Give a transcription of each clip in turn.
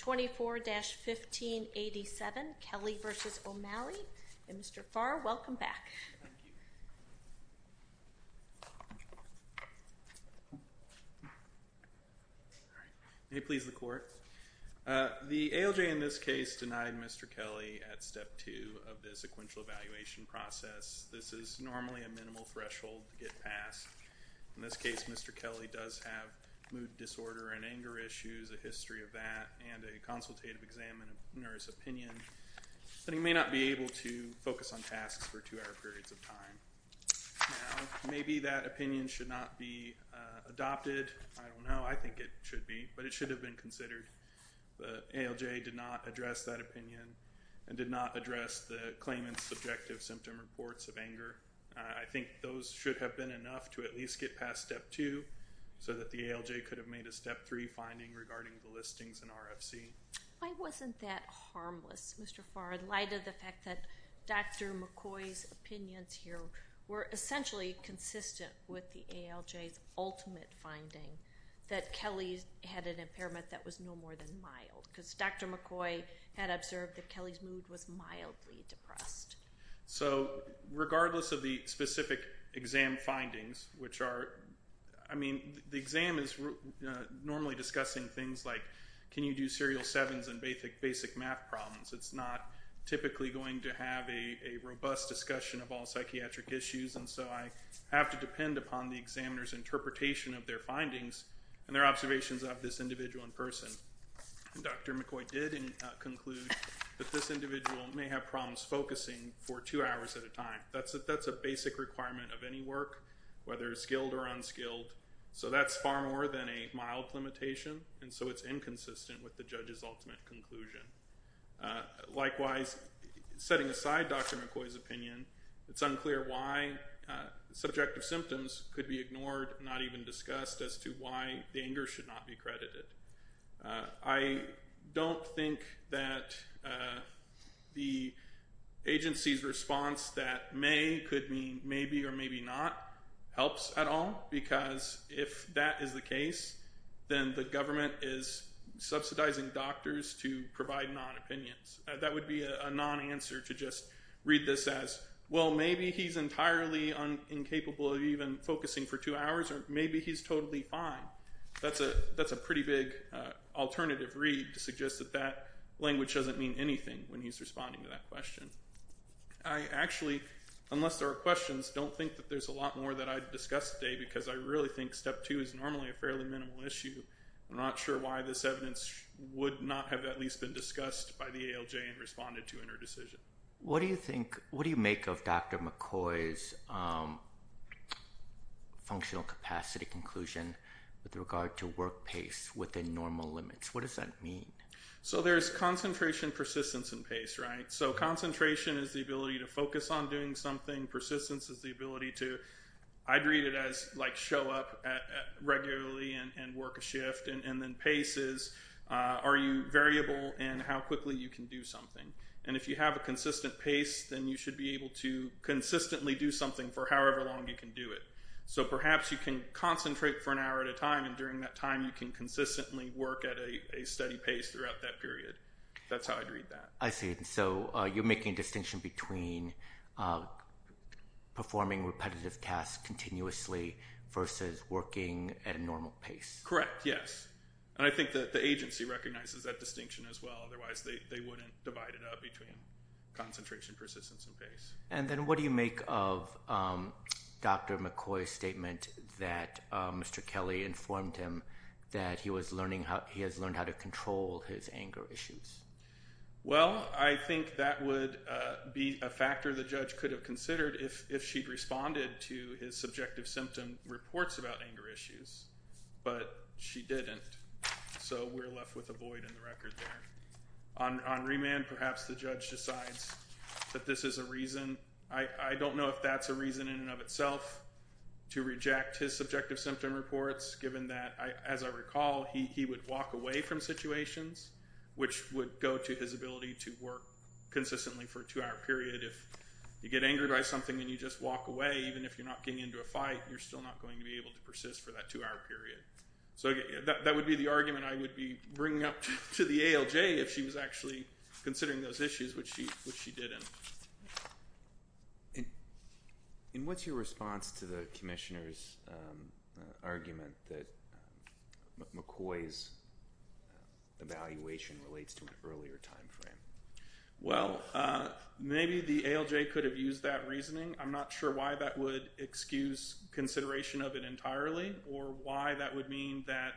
24-1587, Kelley v. O'Malley. And Mr. Farr, welcome back. Thank you. May it please the court. The ALJ in this case denied Mr. Kelley at step two of the sequential evaluation process. This is normally a minimal threshold to get passed. In this case, Mr. Kelley does have mood disorder and anger issues, a history of that, and a consultative examiner's opinion that he may not be able to focus on tasks for two-hour periods of time. Maybe that opinion should not be adopted. I don't know. I think it should be. But it should have been considered. The ALJ did not address that opinion and did not address the claimant's subjective symptom reports of anger. I think those should have been enough to at least get past step two so that the ALJ could have made a step three finding regarding the listings in RFC. Why wasn't that harmless, Mr. Farr, in light of the fact that Dr. McCoy's opinions here were essentially consistent with the ALJ's ultimate finding that Kelley had an impairment that was no more than mild? Because Dr. McCoy had observed that Kelley's mood was mildly So regardless of the specific exam findings, which are, I mean, the exam is normally discussing things like, can you do serial sevens and basic math problems? It's not typically going to have a robust discussion of all psychiatric issues. And so I have to depend upon the examiner's interpretation of their findings and their observations of this individual in person. Dr. McCoy did conclude that this individual may have problems focusing for two hours at a time. That's a basic requirement of any work, whether skilled or unskilled. So that's far more than a mild limitation. And so it's inconsistent with the judge's ultimate conclusion. Likewise, setting aside Dr. McCoy's opinion, it's unclear why subjective symptoms could be ignored, not even discussed as to why the anger should not be credited. I don't think that the agency's response that may could mean maybe or maybe not helps at all, because if that is the case, then the government is subsidizing doctors to provide non-opinions. That would be a non-answer to just read this as, well, maybe he's entirely incapable of even focusing for two hours, or maybe he's totally fine. That's a pretty big alternative read to suggest that that language doesn't mean anything when he's responding to that question. I actually, unless there are questions, don't think that there's a lot more that I'd discuss today, because I really think step two is normally a fairly minimal issue. I'm not sure why this evidence would not have at least been discussed by the ALJ and responded to in her decision. What do you think, what do you make of Dr. McCoy's functional capacity conclusion with regard to work pace within normal limits? What does that mean? So there's concentration, persistence, and pace, right? Concentration is the ability to focus on doing something. Persistence is the ability to, I'd read it as show up regularly and work a shift. And then pace is, are you variable in how quickly you can do something? And if you have a consistent pace, then you should be able to consistently do something for however long you can do it. So perhaps you can concentrate for an hour at a time, and during that time, you can consistently work at a steady pace throughout that period. That's how I'd read that. I see, so you're making a distinction between performing repetitive tasks continuously versus working at a normal pace. Correct, yes. And I think that the agency recognizes that distinction as well. Otherwise, they wouldn't divide it up between concentration, persistence, and pace. And then what do you make of Dr. McCoy's statement that Mr. Kelly informed him that he was learning, he has learned how to control his anger issues? Well, I think that would be a factor the judge could have considered if she'd responded to his subjective symptom reports about anger issues, but she didn't. So we're left with a void in the record there. On remand, perhaps the judge decides that this is a reason. I don't know if that's a reason in and of itself to reject his subjective symptom reports, given that, as I recall, he would walk away from situations, which would go to his ability to work consistently for a two-hour period. If you get angered by something and you just walk away, even if you're not getting into a fight, you're still not going to be able to persist for that two-hour period. So that would be the argument I would be bringing up to the ALJ if she was actually considering those issues, which she didn't. And what's your response to the commissioner's argument that McCoy's evaluation relates to an earlier time frame? Well, maybe the ALJ could have used that reasoning. I'm not sure why that would excuse consideration of it entirely, or why that would mean that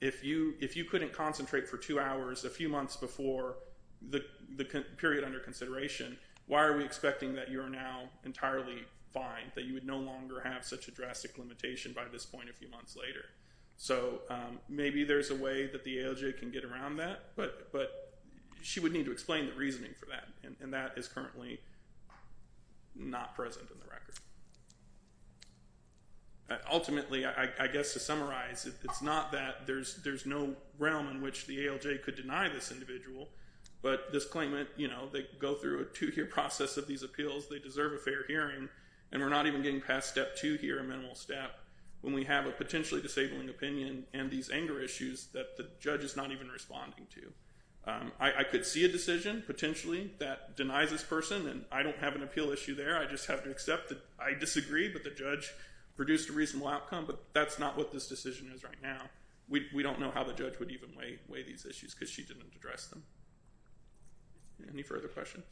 if you couldn't concentrate for two hours a few months before the period under consideration, why are we expecting that you're now entirely fine, that you would no longer have such a drastic limitation by this point a few months later? So maybe there's a way that the ALJ can get around that, but she would need to explain the reasoning for that, and that is currently not present in the record. Ultimately, I guess to summarize, it's not that there's no realm in which the ALJ could deny this individual, but this claimant, they go through a two-year process of these appeals, they deserve a fair hearing, and we're not even getting past step two here, a minimal step, when we have a potentially disabling opinion and these anger issues that the judge is not even responding to. I could see a decision, potentially, that denies this person, and I don't have an appeal issue there, I just have to accept that I disagree, but the judge produced a reasonable outcome, but that's not what this decision is right now. We don't know how the judge would even weigh these issues, because she didn't address them. Any further questions?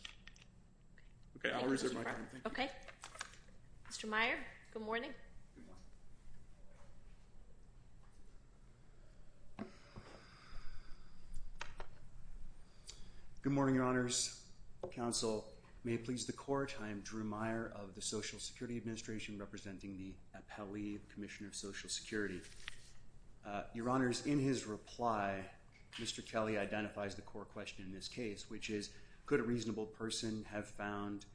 Okay, I'll reserve my time. Okay. Mr. Meyer, good morning. Good morning, Your Honors. Counsel, may it please the Court, I am Drew Meyer of the Social Security Administration, representing the appellee, Commissioner of Social Security. Your Honors, in his reply, Mr. Kelly identifies the core question in this case, which is, could a reasonable person have found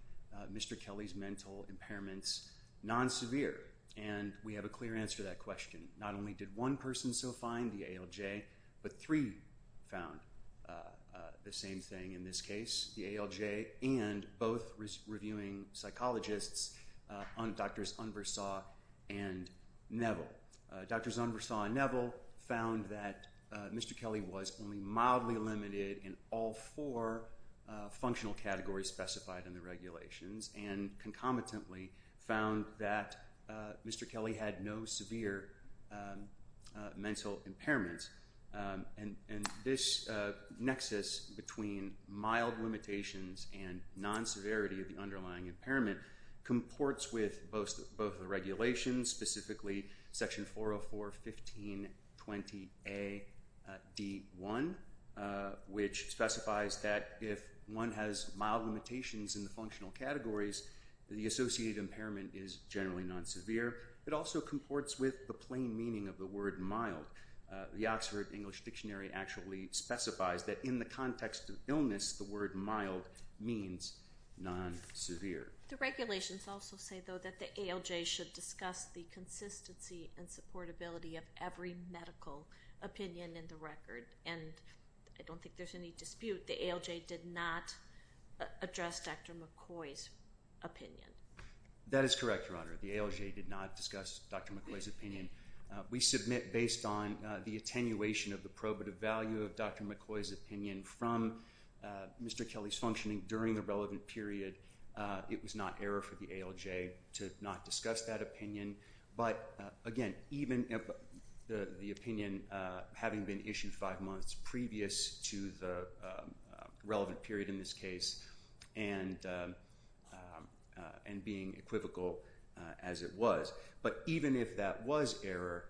Mr. Kelly's mental impairments non-severe? And we have a clear answer to that question. Not only did one person so find the ALJ, but three found the same thing in this case, the ALJ and both reviewing psychologists, Drs. Unversaw and Neville. Drs. Unversaw and Neville found that Mr. Kelly was only mildly limited in all four functional categories, as specified in the regulations, and concomitantly found that Mr. Kelly had no severe mental impairments. And this nexus between mild limitations and non-severity of the underlying impairment comports with both the regulations, specifically Section 404.1520A.D.1, which specifies that if one has mild limitations in the functional categories, the associated impairment is generally non-severe. It also comports with the plain meaning of the word mild. The Oxford English Dictionary actually specifies that in the context of illness, the word mild means non-severe. The regulations also say, though, that the ALJ should discuss the consistency and supportability of every medical opinion in the record. And I don't think there's any dispute. The ALJ did not address Dr. McCoy's opinion. That is correct, Your Honor. The ALJ did not discuss Dr. McCoy's opinion. We submit, based on the attenuation of the probative value of Dr. McCoy's opinion from Mr. Kelly's functioning during the relevant period, it was not error for the ALJ to not discuss that opinion. But again, even the opinion, having been issued five months previous to the relevant period in this case, and being equivocal as it was. But even if that was error,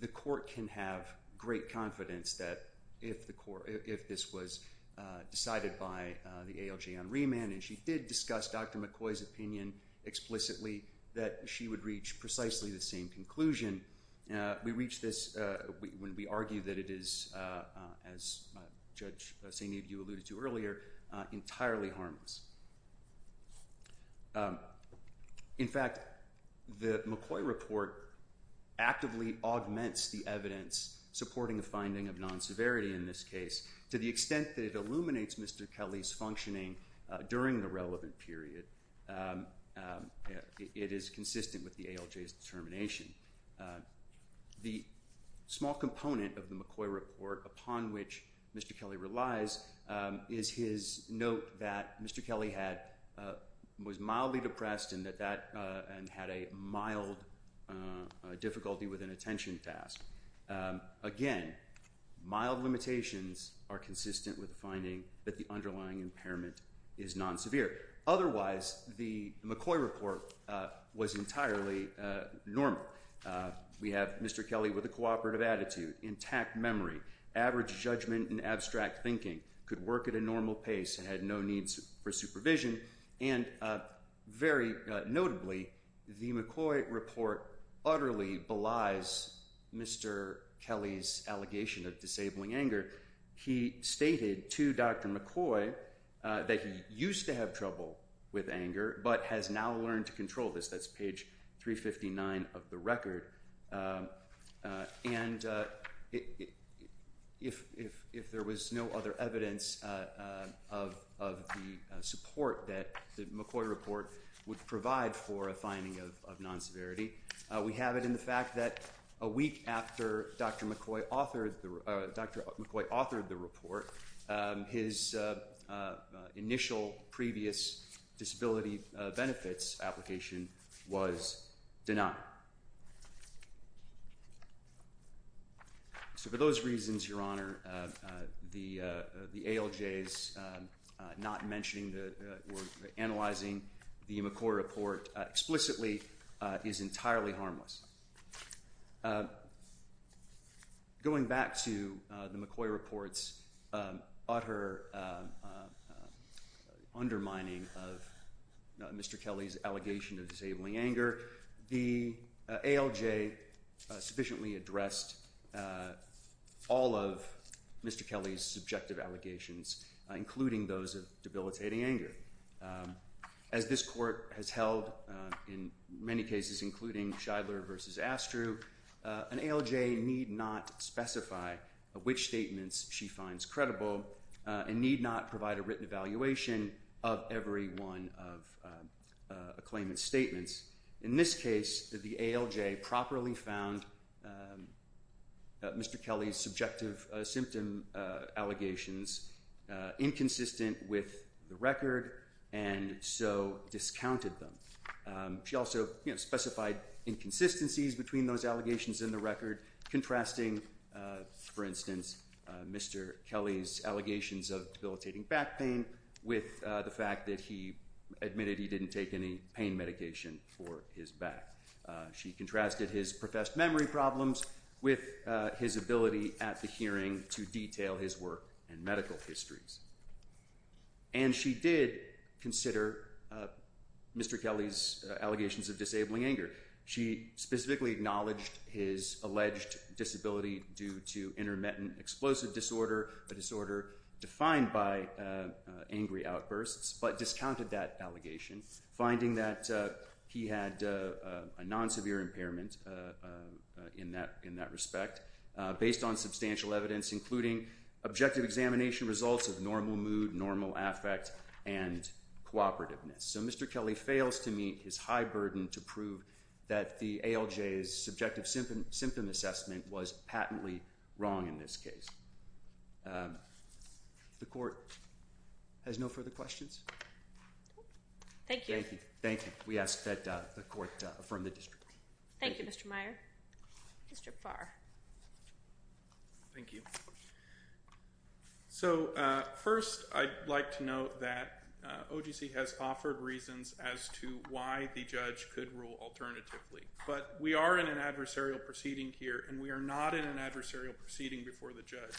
the court can have great confidence that if this was decided by the ALJ on remand, and she did discuss Dr. McCoy's opinion explicitly, that she would reach precisely the same conclusion. We reach this when we argue that it is, as Judge Sainiviu alluded to earlier, entirely harmless. In fact, the McCoy report actively augments the evidence supporting a finding of non-severity in this case. To the extent that it illuminates Mr. Kelly's functioning during the relevant period, it is consistent with the ALJ's determination. The small component of the McCoy report upon which Mr. Kelly relies is his note that Mr. Kelly was mildly depressed and had a mild difficulty with an attention task. Again, mild limitations are consistent with the finding that the underlying impairment is non-severe. Otherwise, the McCoy report was entirely normal. We have Mr. Kelly with a cooperative attitude, intact memory, average judgment and abstract thinking, could work at a normal pace and had no needs for supervision. And very notably, the McCoy report utterly belies Mr. Kelly's allegation of disabling anger. He stated to Dr. McCoy that he used to have trouble with anger but has now learned to control this. That's page 359 of the record. And if there was no other evidence of the support that the McCoy report would provide for a finding of non-severity, we have it in the fact that a week after Dr. McCoy authored the report, his initial previous disability benefits application was denied. So for those reasons, Your Honor, the ALJs not mentioning or analyzing the McCoy report explicitly is entirely harmless. Going back to the McCoy report's utter undermining of Mr. Kelly's allegation of disabling anger, the ALJ sufficiently addressed all of Mr. Kelly's subjective allegations, including those of debilitating anger. As this court has held in many cases, including Shidler versus Astru, an ALJ need not specify which statements she finds credible and need not provide a written evaluation of every one of a claimant's statements. In this case, the ALJ properly found Mr. Kelly's subjective symptom allegations inconsistent with the record and so discounted them. She also specified inconsistencies between those allegations in the record, contrasting, for instance, Mr. Kelly's allegations of debilitating back pain with the fact that he admitted he didn't take any pain medication for his back. She contrasted his professed memory problems with his ability at the hearing to detail his work and medical histories. And she did consider Mr. Kelly's allegations of disabling anger. She specifically acknowledged his alleged disability due to intermittent explosive disorder, a disorder defined by angry outbursts, but discounted that allegation, finding that he had a non-severe impairment in that respect, based on substantial evidence, including objective examination results of normal mood, normal affect, and cooperativeness. So Mr. Kelly fails to meet his high burden to prove that the ALJ's subjective symptom assessment was patently wrong in this case. The court has no further questions? Thank you. Thank you. We ask that the court affirm the district. Thank you, Mr. Meyer. Mr. Farr. Thank you. So first, I'd like to note that OGC has offered reasons as to why the judge could rule alternatively. But we are in an adversarial proceeding here, and we are not in an adversarial proceeding before the judge.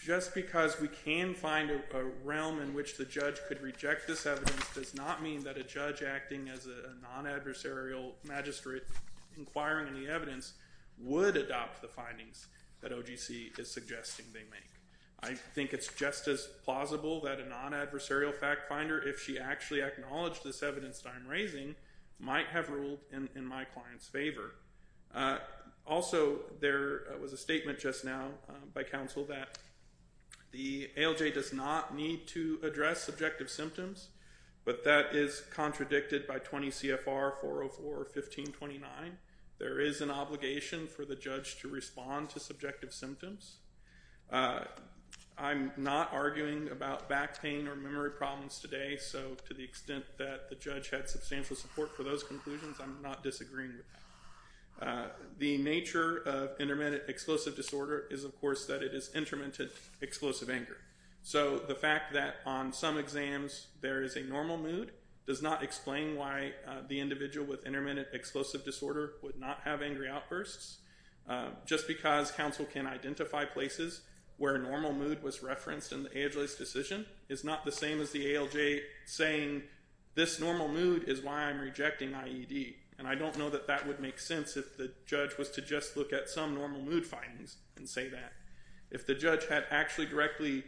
Just because we can find a realm in which the judge could reject this evidence does not mean that a judge acting as a non-adversarial magistrate, inquiring in the evidence, would adopt the findings that OGC is suggesting they make. I think it's just as plausible that a non-adversarial fact finder, if she actually acknowledged this evidence that I'm raising, might have ruled in my client's favor. Also, there was a statement just now by counsel that the ALJ does not need to address subjective symptoms, but that is contradicted by 20 CFR 404-1529. There is an obligation for the judge to respond to subjective symptoms. I'm not arguing about back pain or memory problems today, so to the extent that the judge had substantial support for those conclusions, I'm not disagreeing with that. The nature of intermittent explosive disorder is, of course, that it is intermittent explosive anger. So the fact that on some exams there is a normal mood does not explain why the individual with intermittent explosive disorder would not have angry outbursts. Just because counsel can identify places where normal mood was referenced in the ALJ's decision is not the same as the ALJ saying, this normal mood is why I'm rejecting IED. And I don't know that that would make sense if the judge was to just look at some normal mood findings and say that. If the judge had actually directly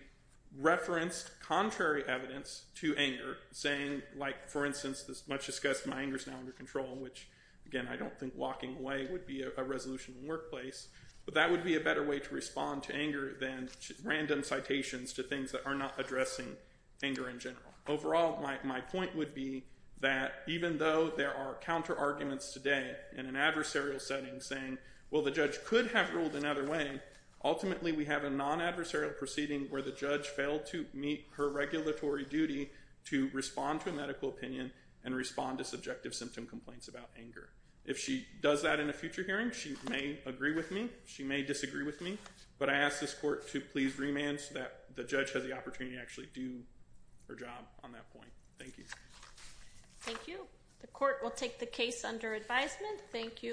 referenced contrary evidence to anger, saying, like, for instance, this much discussed, my anger is now under control, which, again, I don't think walking away would be a resolution in the workplace. But that would be a better way to respond to anger than random citations to things that are not addressing anger in general. Overall, my point would be that even though there are counter-arguments today in an adversarial setting saying, well, the judge could have ruled another way, ultimately we have a non-adversarial proceeding where the judge failed to meet her regulatory duty to respond to a medical opinion and respond to subjective symptom complaints about anger. If she does that in a future hearing, she may agree with me. She may disagree with me. But I ask this court to please remand so that the judge has the opportunity to actually do her job on that point. Thank you. Thank you. The court will take the case under advisement. Thank you.